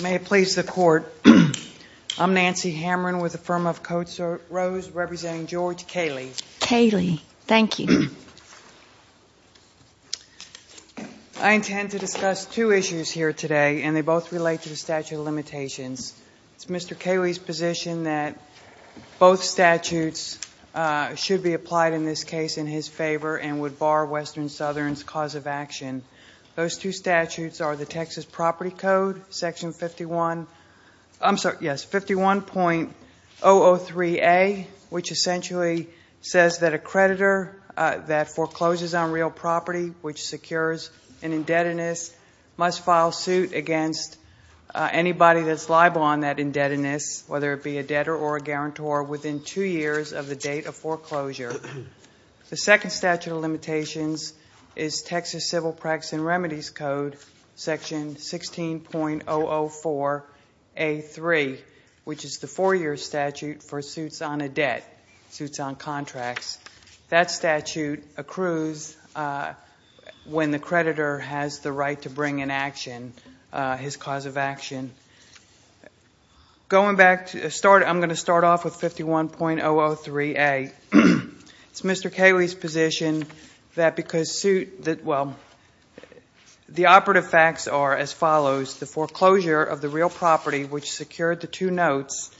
May it please the Court, I'm Nancy Hamron with the firm of Code Rose representing George Kaleh. Kaleh, thank you. I intend to discuss two issues here today and they both relate to the statute of limitations. It's Mr. Kaleh's position that both statutes should be applied in this case in his favor and would bar Western-Southern's cause of action. Those two statutes are the Texas Property Code, Section 51.003A, which essentially says that a creditor that forecloses on real property, which secures an indebtedness, must file suit against anybody that's liable on that indebtedness, whether it be a debtor or a guarantor, within two years of the date of foreclosure. The second statute of limitations is Texas Civil Practices and Remedies Code, Section 16.004A3, which is the four-year statute for suits on a debt, suits on contracts. That statute accrues when the creditor has the right to bring in action, his cause of action. I'm going to start off with 51.003A. It's Mr. Kaleh's position that because the operative facts are as follows, the foreclosure of the real property which secured the two notes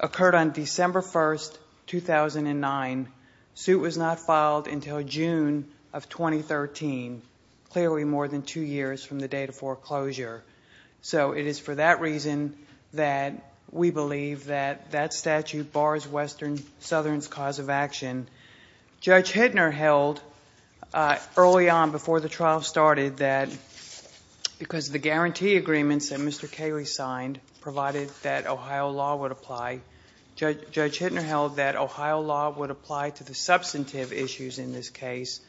occurred on December 1st, 2009. The suit was not filed until June of 2013, clearly more than two years from the date of foreclosure. It is for that reason that we believe that that statute bars Western Southern's cause of action. Judge Hittner held early on before the trial started that because the guarantee agreements that Mr. Kaleh signed provided that Ohio law would apply, Judge Hittner held that Ohio law would apply to the substantive issues in this case,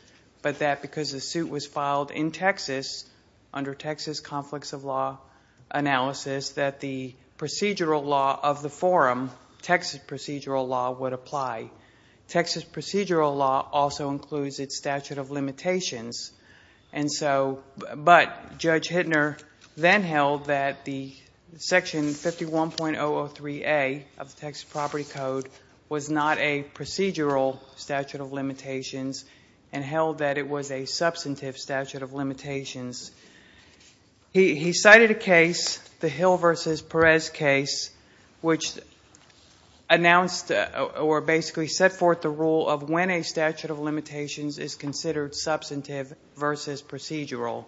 but that because the suit was filed in Texas under Texas conflicts of law analysis that the procedural law of the forum, Texas procedural law, would apply. Texas procedural law also includes its statute of limitations, but Judge Hittner then held that the Section 51.003A of the Texas and held that it was a substantive statute of limitations. He cited a case, the Hill versus Perez case, which announced or basically set forth the rule of when a statute of limitations is considered substantive versus procedural.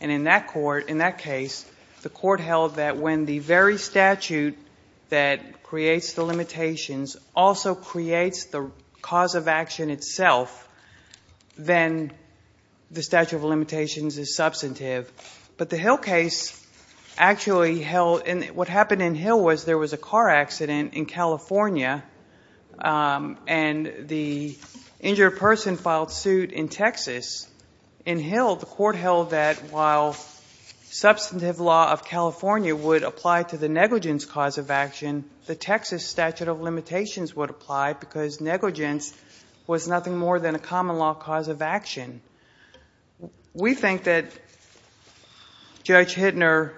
And in that court, in that case, the court held that when the very statute that creates the limitations also creates the cause of action itself, then the statute of limitations is substantive. But the Hill case actually held, and what happened in Hill was there was a car accident in California, and the injured person filed suit in Texas. In Hill, the court held that while substantive law of California would apply to the negligence cause of action, the Texas statute of limitations would apply because negligence was nothing more than a common law cause of action. We think that Judge Hittner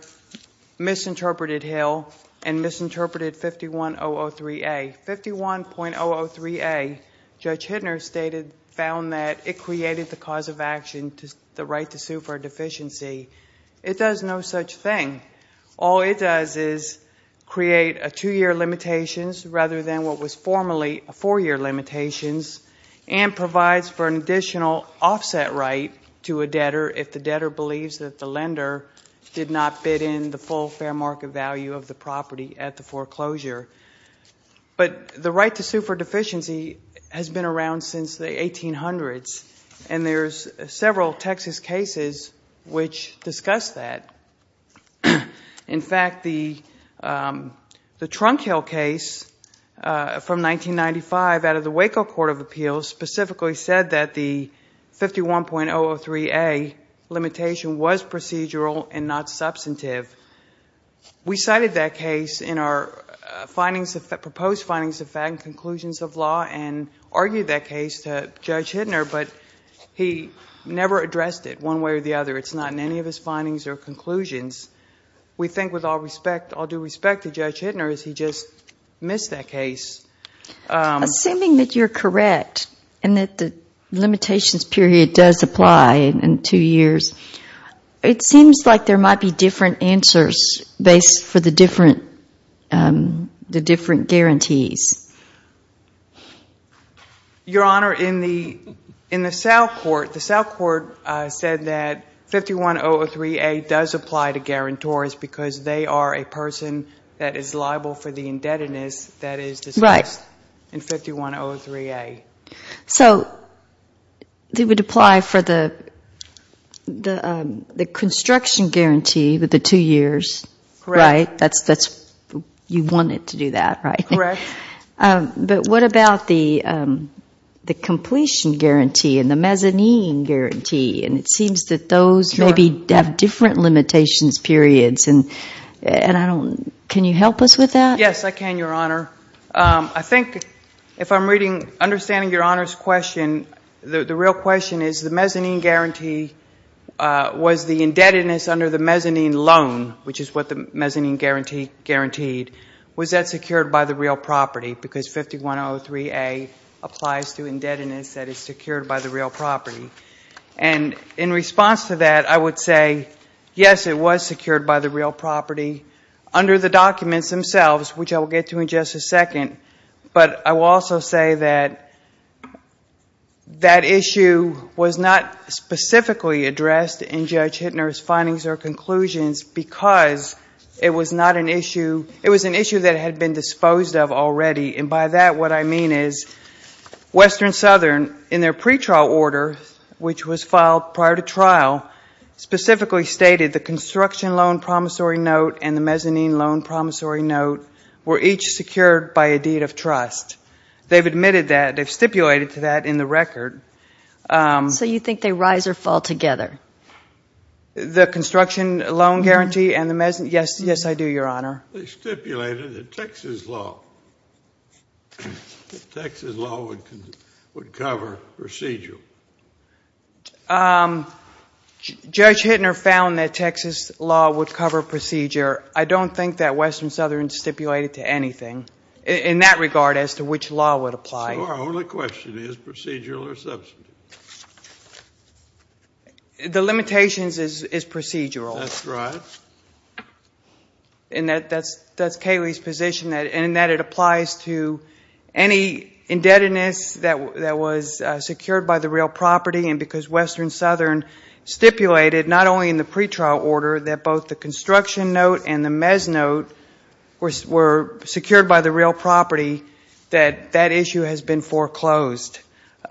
misinterpreted Hill and misinterpreted 51.003A. 51.003A, Judge Hittner stated, found that it created the cause of action, the right to sue for a deficiency. It does no such thing. All it does is create a two-year limitations rather than what was formerly a four-year limitations and provides for an additional offset right to a debtor if the debtor believes that the lender did not bid in the full fair value of the property at the foreclosure. But the right to sue for deficiency has been around since the 1800s, and there's several Texas cases which discuss that. In fact, the Trunk Hill case from 1995 out of the Waco Court of Appeals specifically said that the we cited that case in our proposed findings of fact and conclusions of law and argued that case to Judge Hittner, but he never addressed it one way or the other. It's not in any of his findings or conclusions. We think with all due respect to Judge Hittner is he just missed that case. Assuming that you're correct and that the limitations period does apply in two years, it seems like there might be different answers based for the different guarantees. Your Honor, in the South Court, the South Court said that 51003A does apply to guarantors because they are a person that is liable for the indebtedness that is discussed in 51003A. So it would apply for the construction guarantee with the two years, right? You want it to do that, right? Correct. But what about the completion guarantee and the mezzanine guarantee? It seems that those maybe have different limitations periods. Can you help us with that? Yes, I can, understanding Your Honor's question. The real question is the mezzanine guarantee was the indebtedness under the mezzanine loan, which is what the mezzanine guarantee guaranteed, was that secured by the real property because 51003A applies to indebtedness that is secured by the real property. And in response to that, I would say, yes, it was secured by the real property under the documents themselves, which I will get to in just a second. But I will also say that that issue was not specifically addressed in Judge Hittner's findings or conclusions because it was an issue that had been disposed of already. And by that, what I mean is Western Southern, in their pretrial order, which was filed prior to trial, specifically stated the construction loan promissory note and the mezzanine loan promissory note were each secured by a deed of trust. They've admitted that, they've stipulated to that in the record. So you think they rise or fall together? The construction loan guarantee and the mezzanine, yes, yes, I do, Your Honor. They stipulated that Texas law, that Texas law would cover procedural. Judge Hittner found that Texas law would cover procedure. I don't think that Western Southern stipulated to anything in that regard as to which law would apply. So our only question is procedural or substantive? The limitations is procedural. That's right. And that's Kayleigh's position and that it applies to any indebtedness that was secured by the real property and because Western Southern stipulated, not only in the pretrial order, that both the construction note and the mezz note were secured by the real property, that that issue has been foreclosed.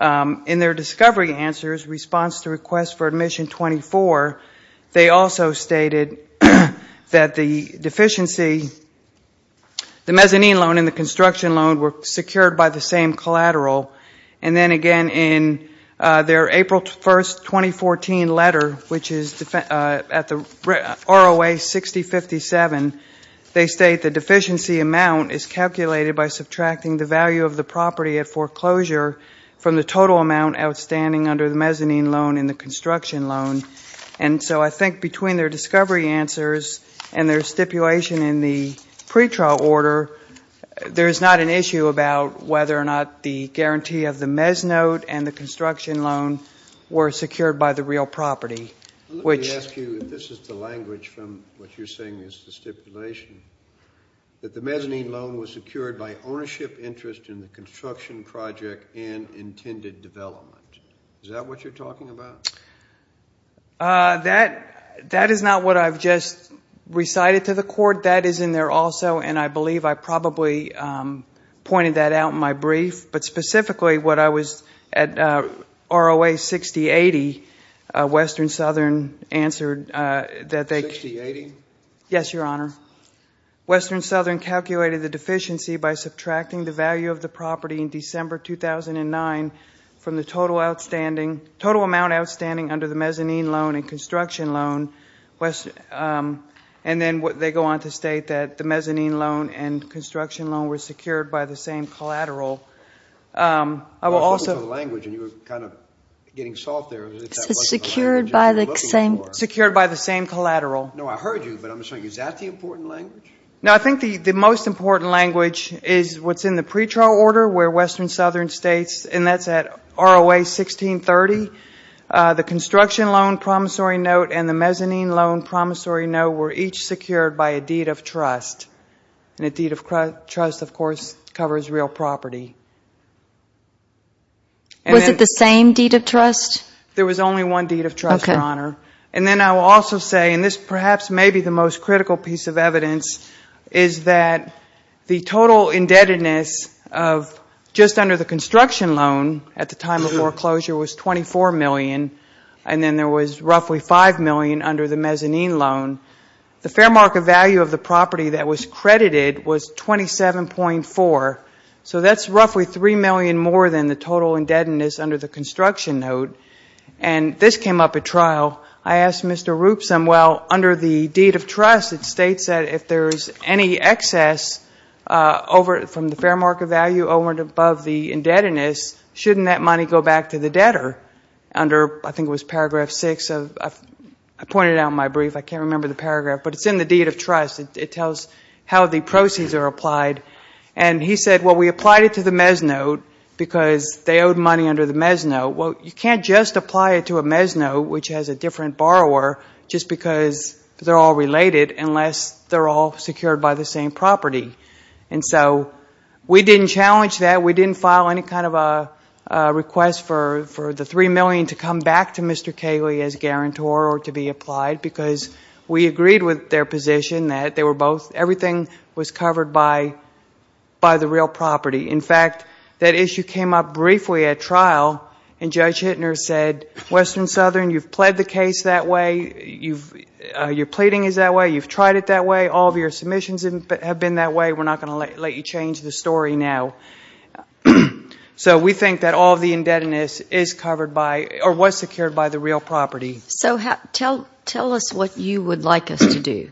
In their discovery answers, response to request for stated that the deficiency, the mezzanine loan and the construction loan were secured by the same collateral. And then again in their April 1st, 2014 letter, which is at the ROA 6057, they state the deficiency amount is calculated by subtracting the value of the property at foreclosure from the total amount outstanding under the mezzanine loan and the construction loan. And so I think between their discovery answers and their stipulation in the pretrial order, there is not an issue about whether or not the guarantee of the mezz note and the construction loan were secured by the real property. Let me ask you, this is the language from what you're saying is the stipulation, that the mezzanine loan was secured by ownership interest in the construction project and intended development. Is that what you're talking about? That is not what I've just recited to the court. That is in there also and I believe I probably pointed that out in my brief. But specifically what I was at ROA 6080, Western Southern answered that they... 6080? Yes, your honor. Western Southern calculated the deficiency by subtracting the value of the property in December 2009 from the total outstanding, under the mezzanine loan and construction loan. And then they go on to state that the mezzanine loan and construction loan were secured by the same collateral. I will also... I was looking for the language and you were kind of getting soft there. It's secured by the same collateral. No, I heard you, but I'm just saying, is that the important language? No, I think the most important language is what's in the pretrial order where Western Southern states, and that's at ROA 1630, the construction loan promissory note and the mezzanine loan promissory note were each secured by a deed of trust. And a deed of trust of course covers real property. Was it the same deed of trust? There was only one deed of trust, your honor. And then I will also say, and this perhaps may be the most critical piece of evidence, is that the total indebtedness of just under the construction loan at the time of foreclosure was $24 million. And then there was roughly $5 million under the mezzanine loan. The fair market value of the property that was credited was $27.4. So that's roughly $3 million more than the total indebtedness under the construction note. And this came up at trial. I asked Mr. Roopsom, well, under the deed of trust, it states that if there's any excess from the fair market value over and above the indebtedness, shouldn't that money go back to the debtor? I think it was paragraph 6. I pointed out in my brief, I can't remember the paragraph, but it's in the deed of trust. It tells how the proceeds are applied. And he said, well, we applied it to the mezzanine note because they owed money under the mezzanine note. Well, you can't just apply it to a mezzanine note, which has a different borrower, just because they're all related unless they're all secured by the same property. And so we didn't challenge that. We didn't file any kind of a request for the $3 million to come back to Mr. Cayley as guarantor or to be applied because we agreed with their position that everything was covered by the real property. In fact, that issue came up briefly at trial and Judge Hittner said, Western Southern, you've pled the case that way. Your pleading is that way. You've tried it that way. All of your submissions have been that way. We're not going to let you change the story now. So we think that all of the indebtedness is covered by or was secured by the real property. So tell us what you would like us to do.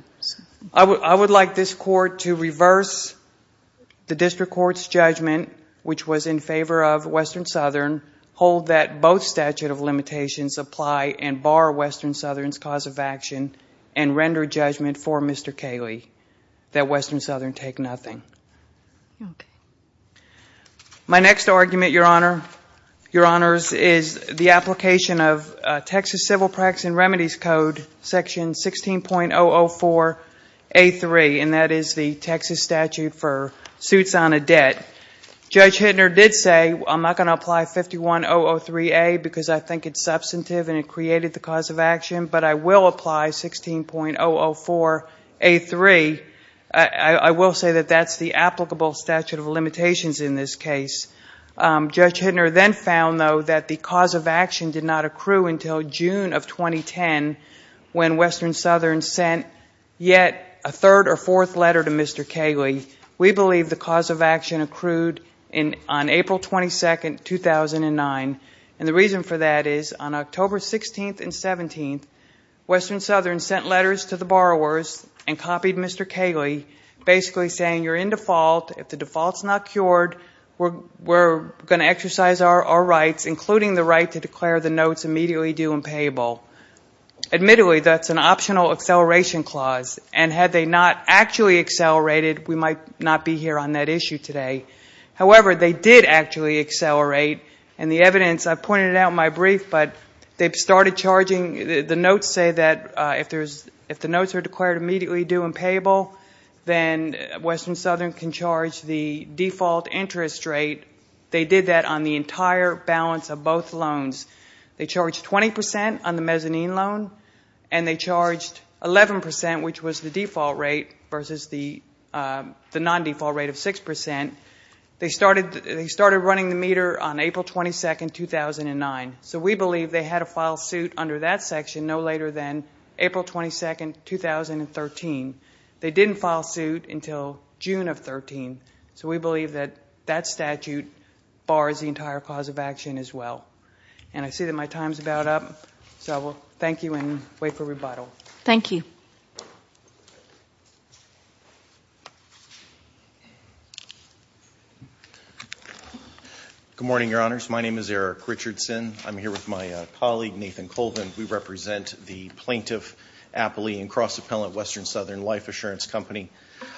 I would like this court to reverse the district court's judgment, which was in favor of Western Southern, hold that both statute of limitations apply and bar Western Southern's cause of action and render judgment for Mr. Cayley that Western Southern take nothing. My next argument, Your Honor, Your Honors, is the application of Texas Civil Practices and Remedies Code section 16.004A3, and that is the Texas statute for suits on a debt. Judge Hittner did say, I'm not going to apply 51003A because I think it's substantive and it is 16.004A3. I will say that that's the applicable statute of limitations in this case. Judge Hittner then found, though, that the cause of action did not accrue until June of 2010 when Western Southern sent yet a third or fourth letter to Mr. Cayley. We believe the cause of action accrued on April 22, 2009, and the reason for that is on October 16th and 17th, Western Southern sent letters to the borrowers and copied Mr. Cayley, basically saying, you're in default. If the default's not cured, we're going to exercise our rights, including the right to declare the notes immediately due and payable. Admittedly, that's an optional acceleration clause, and had they not actually accelerated, we might not be here on that issue today. However, they did actually accelerate, and the evidence, I pointed out in my brief, but they started charging, the notes say that if the notes are declared immediately due and payable, then Western Southern can charge the default interest rate. They did that on the entire balance of both loans. They charged 20% on the mezzanine loan, and they charged 11%, which was the default rate versus the non-default rate of 6%. They started running the meter on April 22, 2009, so we believe they had to file suit under that section no later than April 22, 2013. They didn't file suit until June of 13, so we believe that that statute bars the entire cause of action as well. And I see that my time's about up, so I will thank you and wait for rebuttal. Thank you. Good morning, Your Honors. My name is Eric Richardson. I'm here with my colleague, Nathan Colvin. We represent the Plaintiff-Appley and Cross-Appellant Western Southern Life Assurance Company.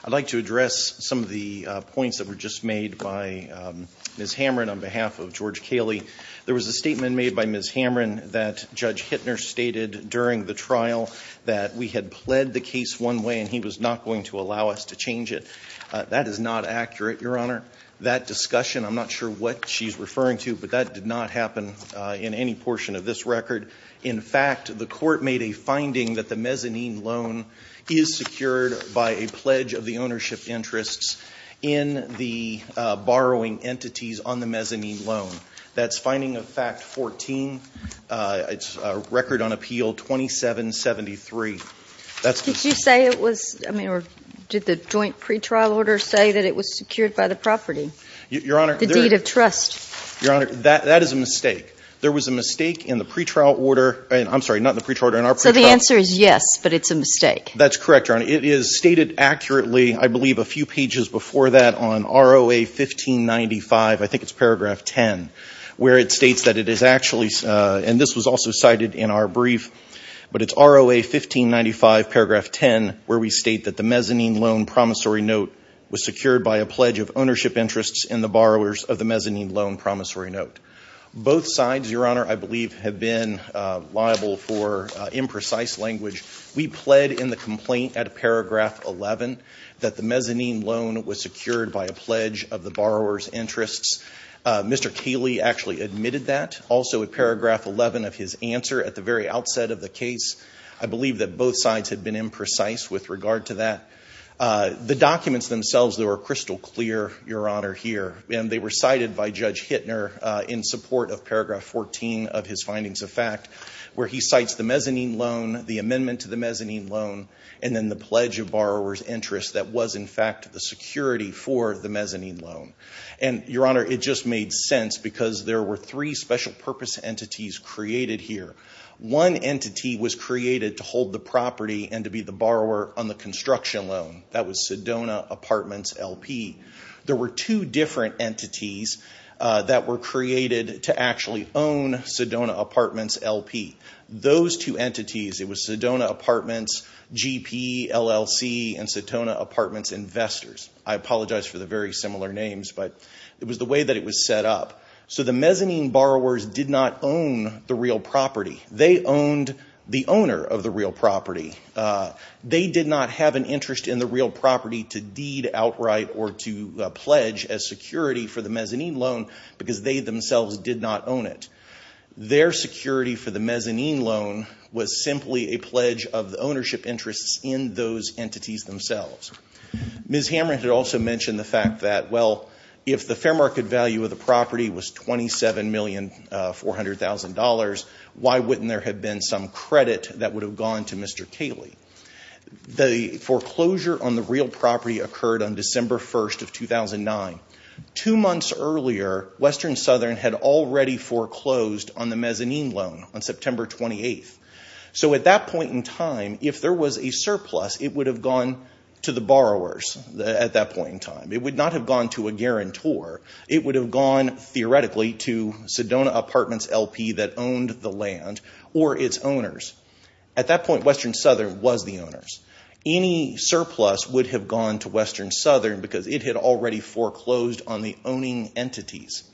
I'd like to address some of the points that were just made by Ms. Hamrin on behalf of George Kaley. There was a statement made by Ms. Hamrin that Judge we had pled the case one way and he was not going to allow us to change it. That is not accurate, Your Honor. That discussion, I'm not sure what she's referring to, but that did not happen in any portion of this record. In fact, the Court made a finding that the mezzanine loan is secured by a pledge of the ownership interests in the borrowing entities on the mezzanine loan. That's finding of fact 14. It's a record on appeal 2773. Did you say it was, I mean, or did the joint pretrial order say that it was secured by the property? Your Honor. The deed of trust. Your Honor, that is a mistake. There was a mistake in the pretrial order. I'm sorry, not in the pretrial order. So the answer is yes, but it's a mistake. That's correct, Your Honor. It is stated accurately, I believe a few pages before that on ROA 1595, I think it's paragraph 10, where it states that it is actually, and this was also cited in our brief, but it's ROA 1595 paragraph 10 where we state that the mezzanine loan promissory note was secured by a pledge of ownership interests in the borrowers of the mezzanine loan promissory note. Both sides, Your Honor, I believe have been liable for was secured by a pledge of the borrower's interests. Mr. Cayley actually admitted that also at paragraph 11 of his answer at the very outset of the case. I believe that both sides had been imprecise with regard to that. The documents themselves, they were crystal clear, Your Honor, here, and they were cited by Judge Hittner in support of paragraph 14 of his findings of fact, where he cites the mezzanine loan, the amendment to the mezzanine loan, and then the for the mezzanine loan. Your Honor, it just made sense because there were three special purpose entities created here. One entity was created to hold the property and to be the borrower on the construction loan. That was Sedona Apartments LP. There were two different entities that were created to actually own Sedona Apartments LP. Those two entities, it was Sedona Apartments GP, LLC, and Sedona Apartments Investors. I apologize for the very similar names, but it was the way that it was set up. So the mezzanine borrowers did not own the real property. They owned the owner of the real property. They did not have an interest in the real property to deed outright or to pledge as security for the mezzanine loan because they themselves did not own it. Their security for the mezzanine loan was simply a pledge of the ownership interests in those entities themselves. Ms. Hamrin had also mentioned the fact that, well, if the fair market value of the property was $27,400,000, why wouldn't there have been some credit that would have gone to Mr. Cayley? The foreclosure on the real property occurred on December 1st of 2009. Two months earlier, Western Southern had already foreclosed on the mezzanine loan on September 28th. So at that point in time, if there was a surplus, it would have gone to the borrowers at that point in time. It would not have gone to a guarantor. It would have gone, theoretically, to Sedona Apartments LP that owned the land or its owners. At that point, Western Southern was the owners. Any surplus would have gone to Western Southern because it had already foreclosed on the owning entities.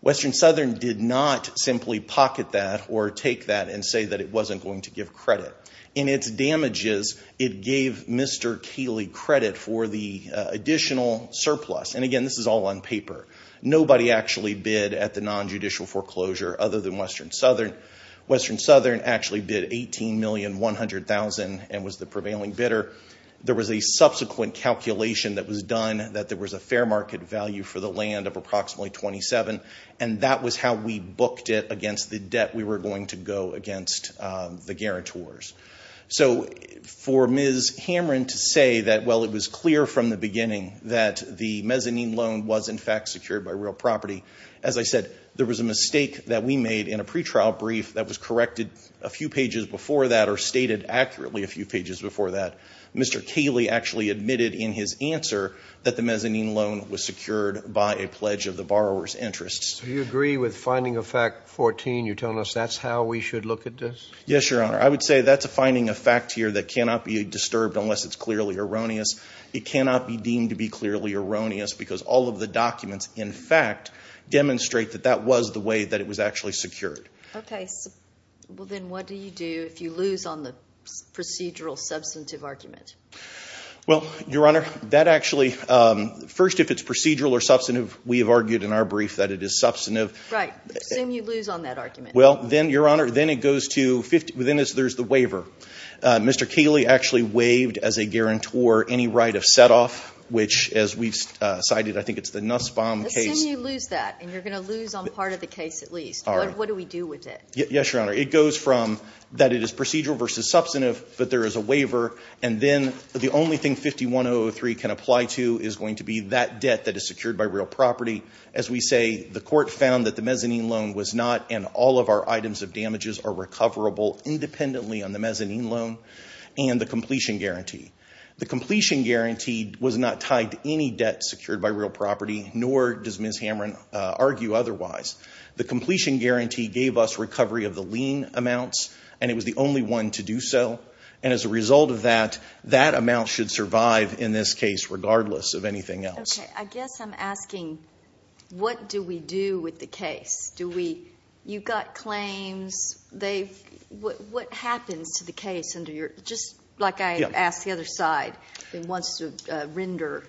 Western Southern did not simply pocket that or take that and say that it wasn't going to give credit. In its damages, it gave Mr. Cayley credit for the additional surplus. And again, this is all on paper. Nobody actually bid at the non-judicial foreclosure other than There was a subsequent calculation that was done that there was a fair market value for the land of approximately $27,000. And that was how we booked it against the debt we were going to go against the guarantors. So for Ms. Hamren to say that, well, it was clear from the beginning that the mezzanine loan was, in fact, secured by real property, as I said, there was a mistake that we made in a pretrial brief that was corrected a few pages before that or stated accurately a few pages before that. Mr. Cayley actually admitted in his answer that the mezzanine loan was secured by a pledge of the borrower's interests. Do you agree with finding of fact 14? You're telling us that's how we should look at this? Yes, Your Honor. I would say that's a finding of fact here that cannot be disturbed unless it's clearly erroneous. It cannot be deemed to be clearly erroneous because all of the documents, in fact, demonstrate that that was the way that it was actually Okay. Well, then what do you do if you lose on the procedural substantive argument? Well, Your Honor, that actually, first, if it's procedural or substantive, we have argued in our brief that it is substantive. Right. Assume you lose on that argument. Well, then, Your Honor, then it goes to, within this, there's the waiver. Mr. Cayley actually waived, as a guarantor, any right of set-off, which, as we've cited, I think it's the Nussbaum case. Assume you lose that and you're going to lose on part of the case, at least. All right. What do we do with it? Yes, Your Honor. It goes from that it is procedural versus substantive, but there is a waiver, and then the only thing 51003 can apply to is going to be that debt that is secured by real property. As we say, the court found that the mezzanine loan was not, and all of our items of damages are recoverable independently on the mezzanine loan and the completion guarantee. The completion guarantee was not tied to any debt secured by real property, nor does Ms. Hamron argue otherwise. The completion guarantee gave us recovery of the lien amounts, and it was the only one to do so, and as a result of that, that amount should survive in this case regardless of anything else. Okay. I guess I'm asking, what do we do with the case? Do we, you've got claims, they've, what happens to the case under your, just like I asked the other side, it wants to render?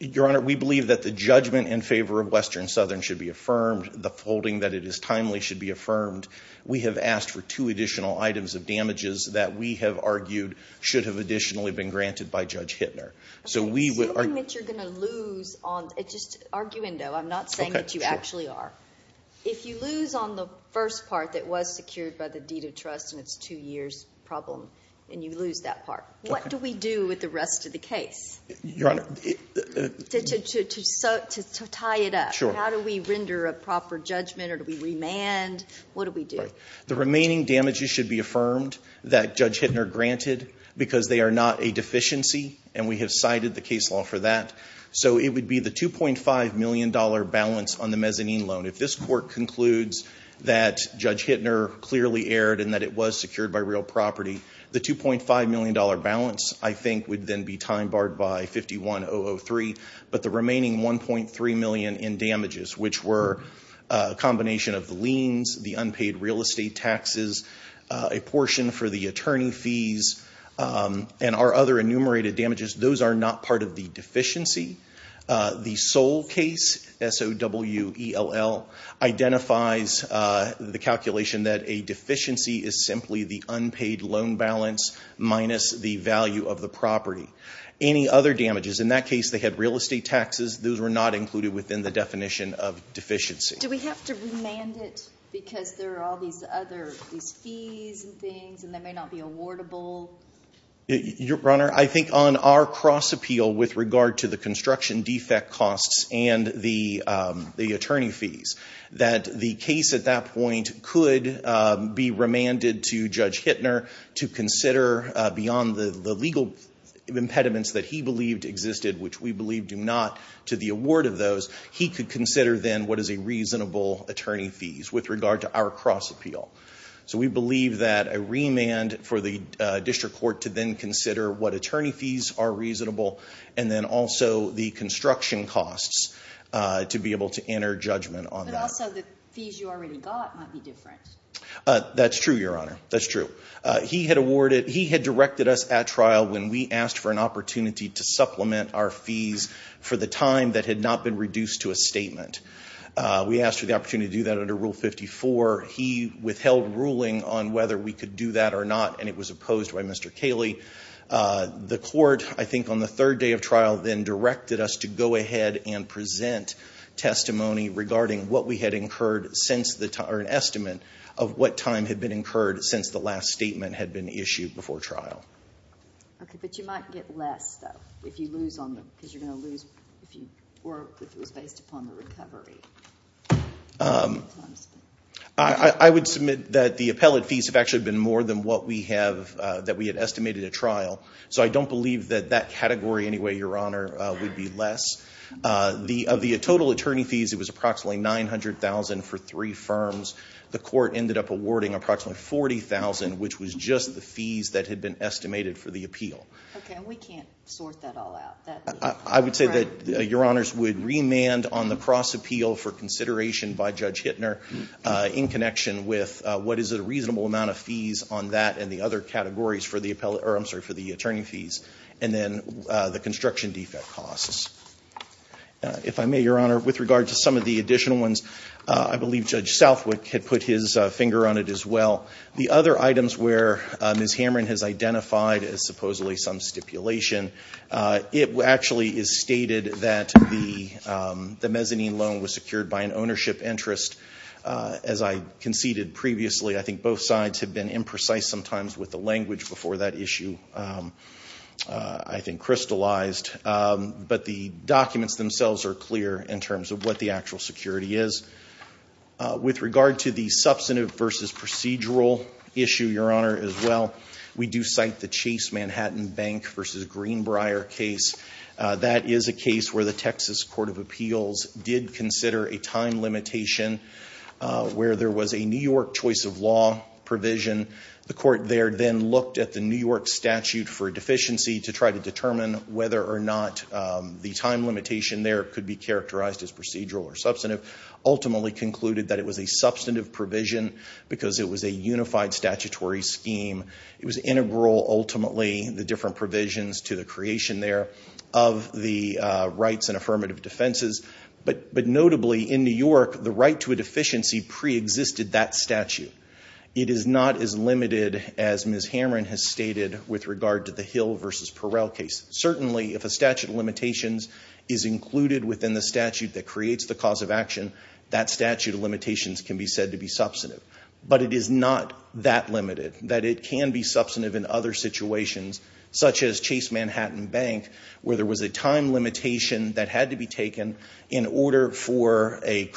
Your Honor, we believe that the judgment in favor of Western Southern should be affirmed. The folding that it is timely should be affirmed. We have asked for two additional items of damages that we have argued should have additionally been granted by Judge Hittner. So we would... I'm assuming that you're going to lose on, just arguendo, I'm not saying that you actually are. If you lose on the first part that was secured by the deed of trust and it's two years problem, and you lose that part, what do we do with the rest of the case? Your Honor... To tie it up. Sure. How do we render a proper judgment, or do we remand? What do we do? The remaining damages should be affirmed that Judge Hittner granted, because they are not a deficiency, and we have cited the case law for that. So it would be the 2.5 million dollar balance on the mezzanine loan. If this court concludes that Judge Hittner clearly erred and that it was secured by real property, the 2.5 million dollar balance, I think, would then be time barred by 51003. But the remaining 1.3 million in damages, which were a combination of the liens, the unpaid real estate taxes, a portion for the attorney fees, and our other enumerated damages, those are not part of the deficiency. The sole case, S-O-W-E-L-L, identifies the calculation that a deficiency is simply the unpaid loan balance minus the value of the property. Any other damages, in that case they had real estate taxes, those were not included within the definition of deficiency. Do we have to remand it because there are all these other, these fees and things, and they may not be awardable? Your Honor, I think on our cross appeal with regard to construction defect costs and the attorney fees, that the case at that point could be remanded to Judge Hittner to consider beyond the legal impediments that he believed existed, which we believe do not, to the award of those. He could consider then what is a reasonable attorney fees with regard to our cross appeal. So we believe that a remand for the district court to then consider what attorney fees are reasonable, and then also the construction costs to be able to enter judgment on that. But also the fees you already got might be different. That's true, Your Honor, that's true. He had awarded, he had directed us at trial when we asked for an opportunity to supplement our fees for the time that had not been reduced to a statement. We asked for the opportunity to do that under Rule 54. He withheld ruling on whether we could do that or not, and it was opposed by Mr. Cayley. The court, I think on the third day of trial, then directed us to go ahead and present testimony regarding what we had incurred since the time, or an estimate of what time had been incurred since the last statement had been issued before trial. Okay, but you might get less though if you lose on the, because you're the appellate fees have actually been more than what we have, that we had estimated at trial. So I don't believe that that category anyway, Your Honor, would be less. Of the total attorney fees, it was approximately $900,000 for three firms. The court ended up awarding approximately $40,000, which was just the fees that had been estimated for the appeal. Okay, and we can't sort that all out. I would say that Your Honors would remand on the cross appeal for consideration by Judge Hittner in connection with what is a reasonable amount of fees on that and the other categories for the appellate, or I'm sorry, for the attorney fees, and then the construction defect costs. If I may, Your Honor, with regard to some of the additional ones, I believe Judge Southwick had put his finger on it as well. The other items where Ms. Hamrin has identified as supposedly some stipulation, it actually is stated that the mezzanine loan was secured by an ownership interest. As I conceded previously, I think both sides have been imprecise sometimes with the language before that issue I think crystallized. But the documents themselves are clear in terms of what the actual security is. With regard to the substantive versus procedural issue, Your Honor, as well, we do cite the Chase Manhattan Bank versus Greenbrier case. That is a case where the Texas Court of Appeals did consider a time limitation where there was a New York choice of law provision. The court there then looked at the New York statute for deficiency to try to determine whether or not the time limitation there could be characterized as procedural or substantive, ultimately concluded that it was a substantive provision because it was a unified statutory scheme. It was integral, ultimately, the different provisions to the creation there of the rights and affirmative defenses. But notably, in New York, the right to a deficiency preexisted that statute. It is not as limited as Ms. Hamrin has stated with regard to the Hill versus Perel case. Certainly, if a statute of limitations is included within the statute that creates the cause of action, that statute of limitations can be said to be substantive. But it is not that limited, that it can be substantive in other situations such as Chase Manhattan Bank where there was a time limitation that had to be taken in order for a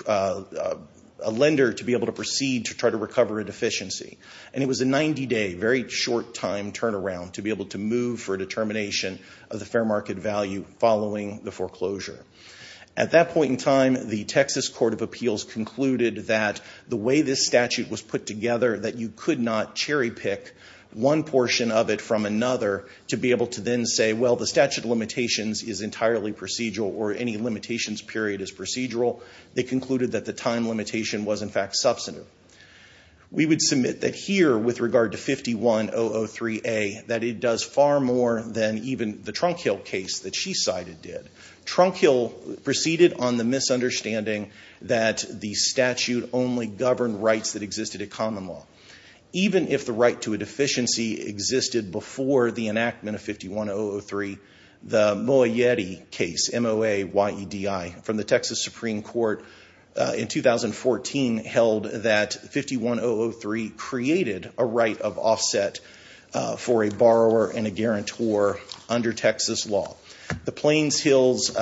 lender to be able to proceed to try to recover a deficiency. And it was a 90-day, very short time turnaround to be able to move for a determination of the fair market value following the foreclosure. At that point in time, the Texas Court of Appeals concluded that the way this statute was put together, that you could not cherry pick one portion of it from another to be able to then say, well, the statute of limitations is entirely procedural or any limitations period is procedural. They concluded that the time limitation was, in fact, substantive. We would submit that here, with regard to 51003A, that it does far more than even the Trunk Hill case that she cited did. Trunk Hill proceeded on the misunderstanding that the statute only governed rights that existed at common law. Even if the right to a deficiency existed before the enactment of 51003, the Moyetti case, M-O-A-Y-E-D-I, from the Texas Supreme Court in 2014 held that 51003 created a borrower and a guarantor under Texas law. The Plains Hills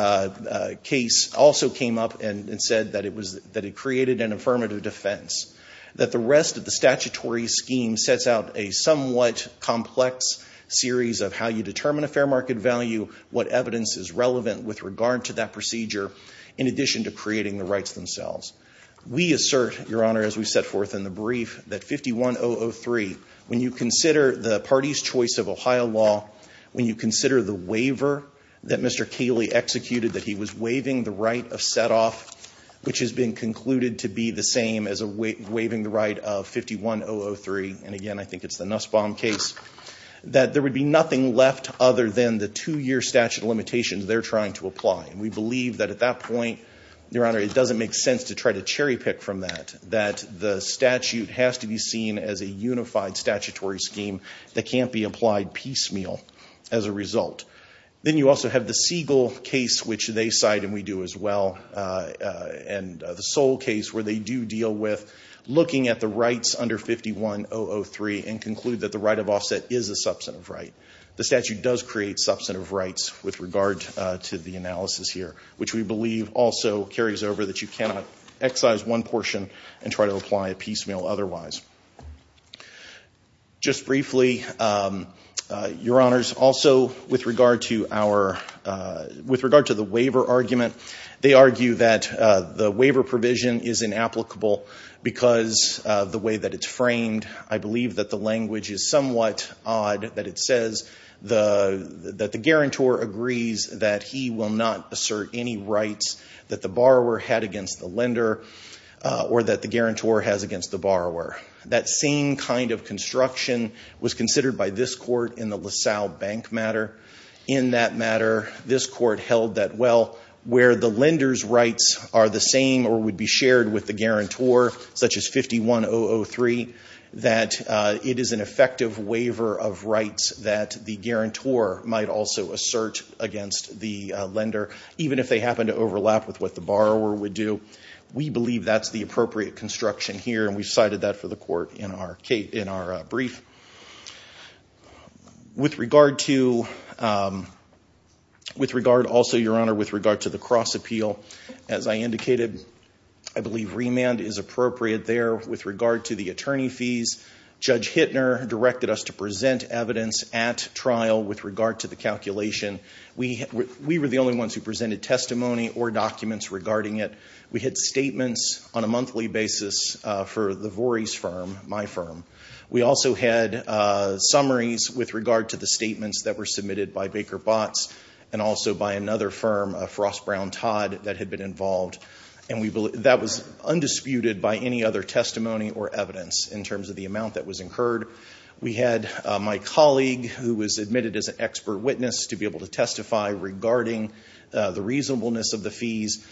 case also came up and said that it created an affirmative defense, that the rest of the statutory scheme sets out a somewhat complex series of how you determine a fair market value, what evidence is relevant with regard to that procedure, in addition to creating the rights themselves. We assert, Your Honor, as we set of Ohio law, when you consider the waiver that Mr. Kaley executed, that he was waiving the right of set-off, which has been concluded to be the same as waiving the right of 51003, and again, I think it's the Nussbaum case, that there would be nothing left other than the two-year statute limitations they're trying to apply. And we believe that at that point, Your Honor, it doesn't make sense to try to cherry-pick from that, that the statute has to be seen as a unified statutory scheme that can't be applied piecemeal as a result. Then you also have the Siegel case, which they cite and we do as well, and the Soule case, where they do deal with looking at the rights under 51003 and conclude that the right of offset is a substantive right. The statute does create substantive rights with regard to the analysis here, which we believe also carries over that you cannot excise one portion and try to apply it piecemeal otherwise. Just briefly, Your Honors, also with regard to the waiver argument, they argue that the waiver provision is inapplicable because of the way that it's framed. I believe that the language is somewhat odd, that it says that the guarantor agrees that he will not assert any rights that the borrower had against the lender or that the guarantor has against the borrower. That same kind of construction was considered by this Court in the LaSalle Bank matter. In that matter, this Court held that, well, where the lender's rights are the same or would be shared with the guarantor, such as 51003, that it is an effective waiver of rights that the guarantor might also assert against the lender, even if they happen to overlap with what the borrower would do. We believe that's the appropriate construction here, and we cited that for the Court in our brief. With regard also, Your Honor, with regard to the cross appeal, as I indicated, I believe remand is appropriate there. With regard to the attorney fees, Judge Hittner directed us to present evidence at trial with regard to the calculation. We were the only ones who presented testimony or documents regarding it. We had statements on a monthly basis for the Voorhees firm, my firm. We also had summaries with regard to the statements that were submitted by Baker Botts and also by another firm, Frost, Brown, Todd, that had been involved, and that was undisputed by any other testimony or evidence in terms of the amount that was incurred. We had my colleague, who was admitted as an expert witness, to be able to testify regarding the reasonableness of the fees.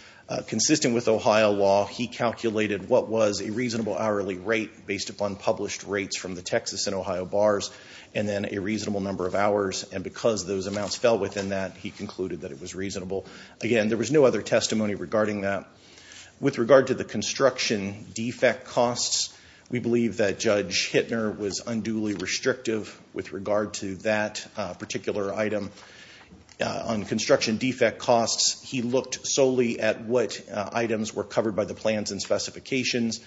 Consistent with Ohio law, he calculated what was a reasonable hourly rate based upon published rates from the Texas and Ohio bars, and then a reasonable number of hours, and because those amounts fell within that, he concluded that it was reasonable. Again, there was no other testimony regarding that. With regard to the construction defect costs, we believe that Judge Hittner was unduly restrictive with regard to that particular item. On construction defect costs, he looked solely at what items were covered by the plans and specifications.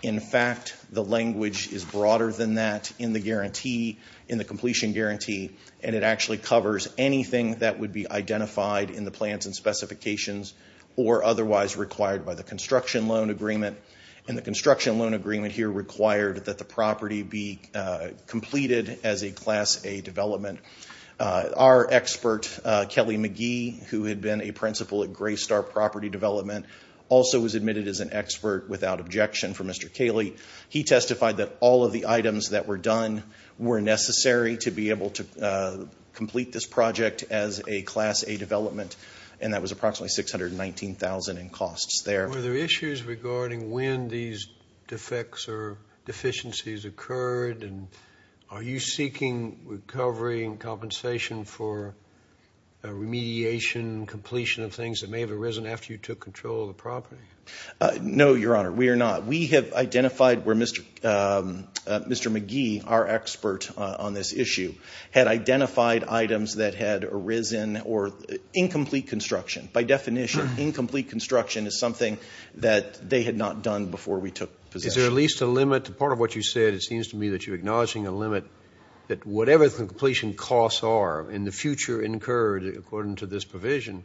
In fact, the language is broader than that in the guarantee, in the completion guarantee, and it actually covers anything that would be identified in the plans and specifications or otherwise required by the construction loan agreement, and the construction loan agreement here required that the property be completed as a Class A development. Our expert, Kelly McGee, who had been a principal at Graystar Property Development, also was admitted as an expert without objection for Mr. Cayley. He testified that all of the items that were done were necessary to be able to complete this project as a Class A development, and that was approximately $619,000 in costs there. Were there issues regarding when these defects or deficiencies occurred, and are you seeking recovery and compensation for remediation, completion of things that may have arisen after you took control of the property? No, Your Honor, we are not. We have identified where Mr. McGee, our expert on this issue, had identified items that had arisen or incomplete construction. By definition, incomplete construction is something that they had not done before we took possession. Is there at least a limit to part of what you said? It seems to me that you're acknowledging a limit that whatever the completion costs are in the future incurred according to this provision,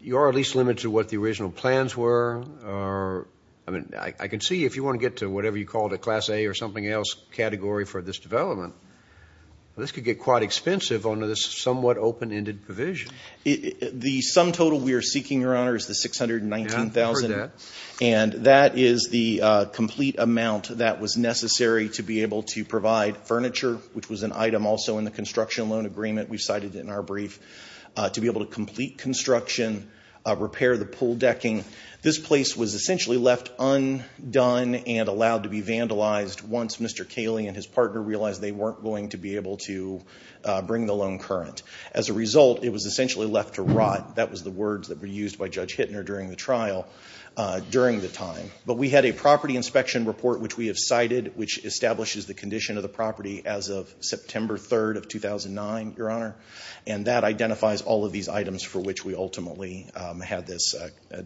you are at least limited to what the original plans were, or I mean, I can see if you want to get to whatever you call it, a Class A or something else category for this development, this could get quite expensive under this somewhat open-ended provision. The sum total we are seeking, Your Honor, is the $619,000, and that is the complete amount that was necessary to be able to provide furniture, which was an item also in the construction loan agreement we cited in our brief, to be able to complete construction, repair the pool decking. This place was essentially left undone and allowed to be vandalized once Mr. Cayley and his partner realized they weren't going to be able to bring the loan current. As a result, it was essentially left to rot. That was the words that were used by Judge Hittner during the trial, during the time. But we had a property inspection report which we have cited, which establishes the condition of the property as of September 3rd of 2009, Your Honor, and that identifies all of these items for which we ultimately had this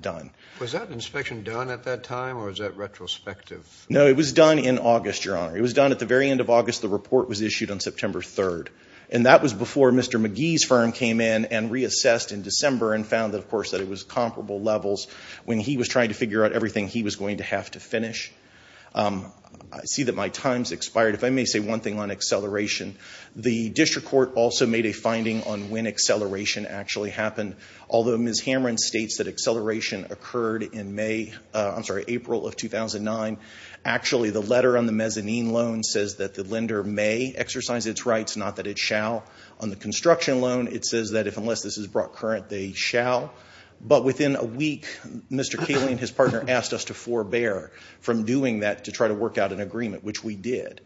done. Was that inspection done at that time, or is that retrospective? No, it was done in August, Your Honor. It was done at the very end of August. The report was issued on September 3rd, and that was before Mr. McGee's firm came in and reassessed in December and found that, of course, that it was comparable levels when he was trying to figure out everything he was going to have to finish. I see that my time's expired. If I may say one thing on acceleration, the district court also made a finding on when acceleration actually happened. Although Ms. Hamrin states that acceleration occurred in April of 2009, actually the letter on the mezzanine loan says that the lender may exercise its rights, not that it shall. On the construction loan, it says that if unless this is brought current, they shall. But within a week, Mr. Koehling and his partner asked us to forbear from doing that to try to work out an agreement, which we did.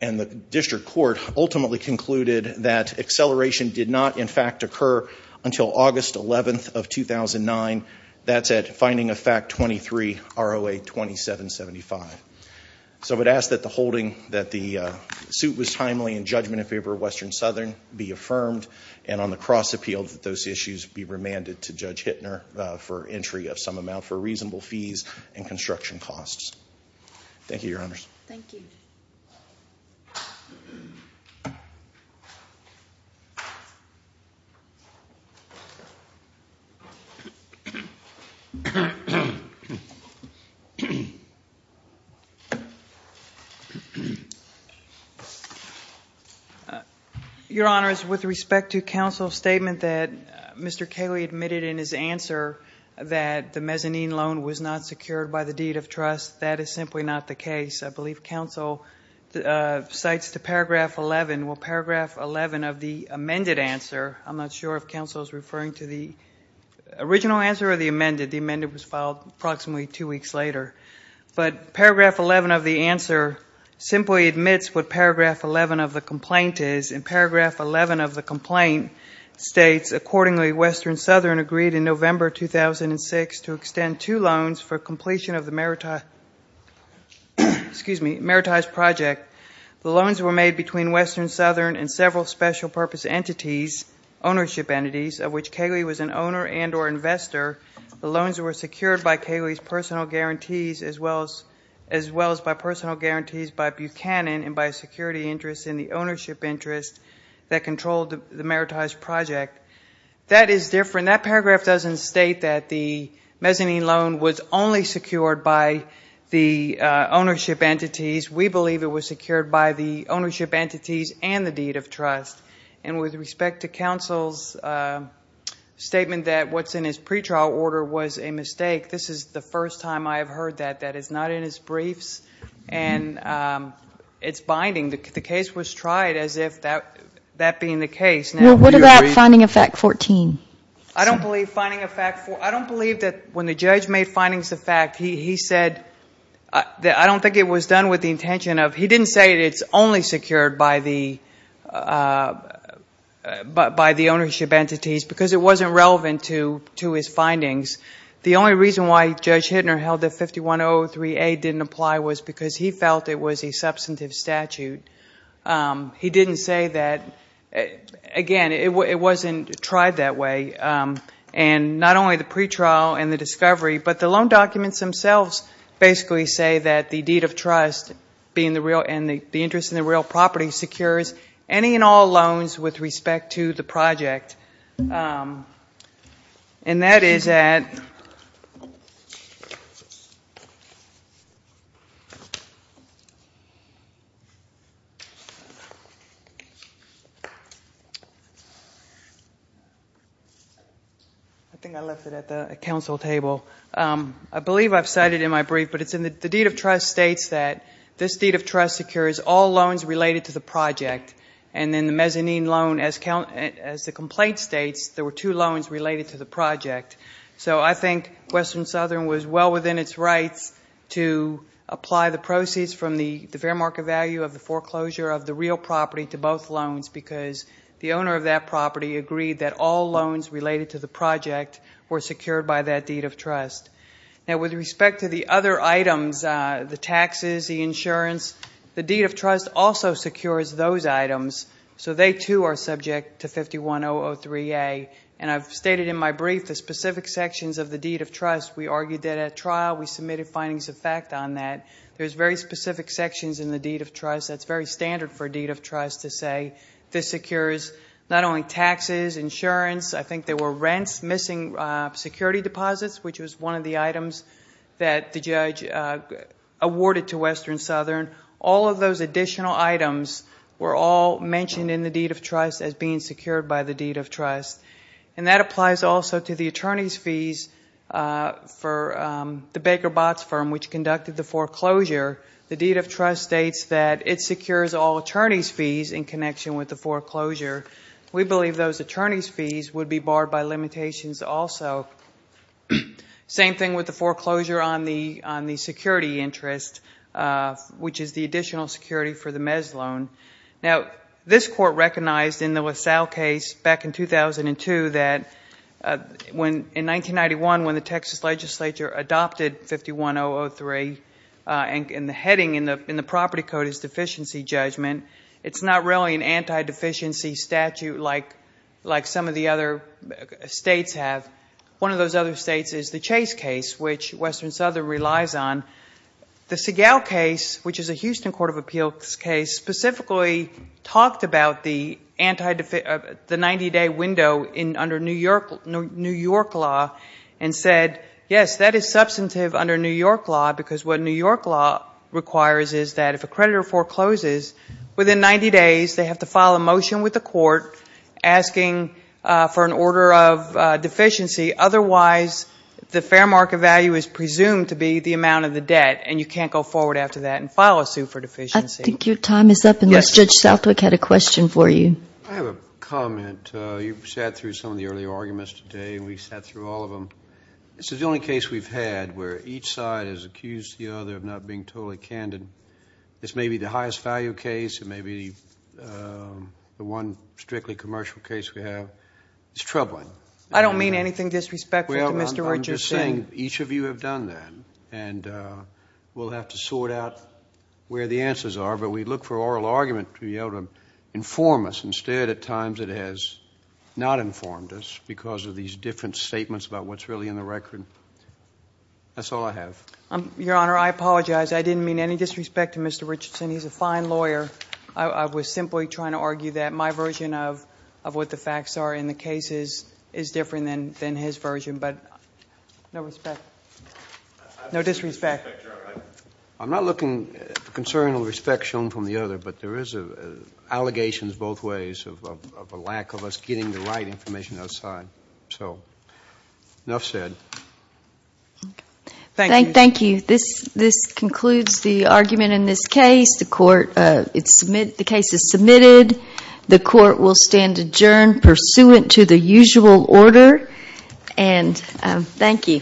And the district court ultimately concluded that acceleration did not, in fact, occur until August 11th of 2009. That's at finding of fact 23, ROA 2775. So I would ask that the holding that the suit was timely in judgment in favor of Western Southern be affirmed, and on the cross appeal that those issues be remanded to Judge Hittner for entry of some amount for reasonable fees and construction costs. Thank you, Your Honors. Thank you. Your Honors, with respect to counsel's statement that Mr. Koehling admitted in his answer that the mezzanine loan was not secured by the deed of trust, that is simply not the case. I believe counsel cites to paragraph 11 of the amended answer. I'm not sure if counsel is referring to the original answer or the amended. The amended was filed approximately two weeks later. But paragraph 11 of the answer simply admits what paragraph 11 of the complaint is. And paragraph 11 of the complaint states, accordingly, Western Southern agreed in November 2006 to extend two years of the Meritized Project. The loans were made between Western Southern and several special purpose entities, ownership entities, of which Koehling was an owner and or investor. The loans were secured by Koehling's personal guarantees as well as by Buchanan and by a security interest in the ownership interest that controlled the Meritized Project. That is different. That paragraph doesn't state that the mezzanine loan was only secured by the ownership entities. We believe it was secured by the ownership entities and the deed of trust. And with respect to counsel's statement that what's in his pretrial order was a mistake, this is the first time I have heard that. That is not in his briefs. And it's binding. The case was tried as if that being the case. Well, what about finding of fact 14? I don't believe finding of fact 14, I don't believe that when the judge made findings of fact, he said, I don't think it was done with the intention of, he didn't say it's only secured by the ownership entities because it wasn't relevant to his findings. The only reason why Judge Hittner held that 5103A didn't apply was because he felt it was a substantive statute. He didn't say that, again, it wasn't tried that way. And not only the pretrial and the discovery, but the loan documents themselves basically say that the deed of trust and the interest in the real property secures any and all loans with respect to the project. And that is at the counsel table. I believe I cited in my brief, but the deed of trust states that this deed of trust secures all loans related to the project. And then the mezzanine loan, as the complaint states, there were two loans related to the project. So I think Western Southern was well within its rights to apply the proceeds from the fair market value of the foreclosure of the real property to both loans because the owner of that property agreed that all loans related to the project were secured by that deed of trust. Now with respect to the other items, the taxes, the insurance, the deed of trust also secures those items. So they too are subject to 51003A. And I've stated in my brief the specific sections of the deed of trust. We argued that at trial we submitted findings of fact on that. There's very specific sections in the deed of trust that's very standard for a deed of trust to say this secures not only taxes, insurance, I think there were rents, missing security deposits, which was one of the items that the judge awarded to Western Southern. All of those additional items were all mentioned in the deed of trust as being secured by the deed of trust. And that applies also to the attorney's fees for the Baker Botts firm, which conducted the foreclosure. The deed of trust states that it secures all attorney's fees in connection with the foreclosure. We believe those attorney's fees would be barred by limitations also. Same thing with the foreclosure on the security interest, which is the additional security for the Mez loan. Now this court recognized in the LaSalle case back in 2002 that in 1991 when the Texas legislature adopted 51003 and the heading in the property code is deficiency judgment, it's not really an anti-deficiency statute like some of the other states have. One of those other states is the Chase case, which Western Southern relies on. The Segal case, which is a Houston court of appeals case, specifically talked about the 90-day window under New York law and said, yes, that is substantive under New York law because what New York law requires is that if a creditor forecloses, within 90 days they have to file a motion with the court asking for an order of deficiency. Otherwise, the fair market value is presumed to be the amount of the debt and you can't go forward after that and file a suit for that. Mr. Southwick had a question for you. I have a comment. You've sat through some of the earlier arguments today and we've sat through all of them. This is the only case we've had where each side has accused the other of not being totally candid. This may be the highest value case. It may be the one strictly commercial case we have. It's troubling. I don't mean anything disrespectful to Mr. Richardson. I'm just saying each of you have done that and we'll have to sort out where the answers are, but we look for the evidence to be able to inform us. Instead, at times it has not informed us because of these different statements about what's really in the record. That's all I have. Your Honor, I apologize. I didn't mean any disrespect to Mr. Richardson. He's a fine lawyer. I was simply trying to argue that my version of what the facts are in the cases is different than his version, but no disrespect. No disrespect. I'm not looking for concern or respect shown from the other, but there is allegations both ways of a lack of us getting the right information outside. Enough said. Thank you. Thank you. This concludes the argument in this case. The case is submitted. The court will stand adjourned pursuant to the usual order. Thank you.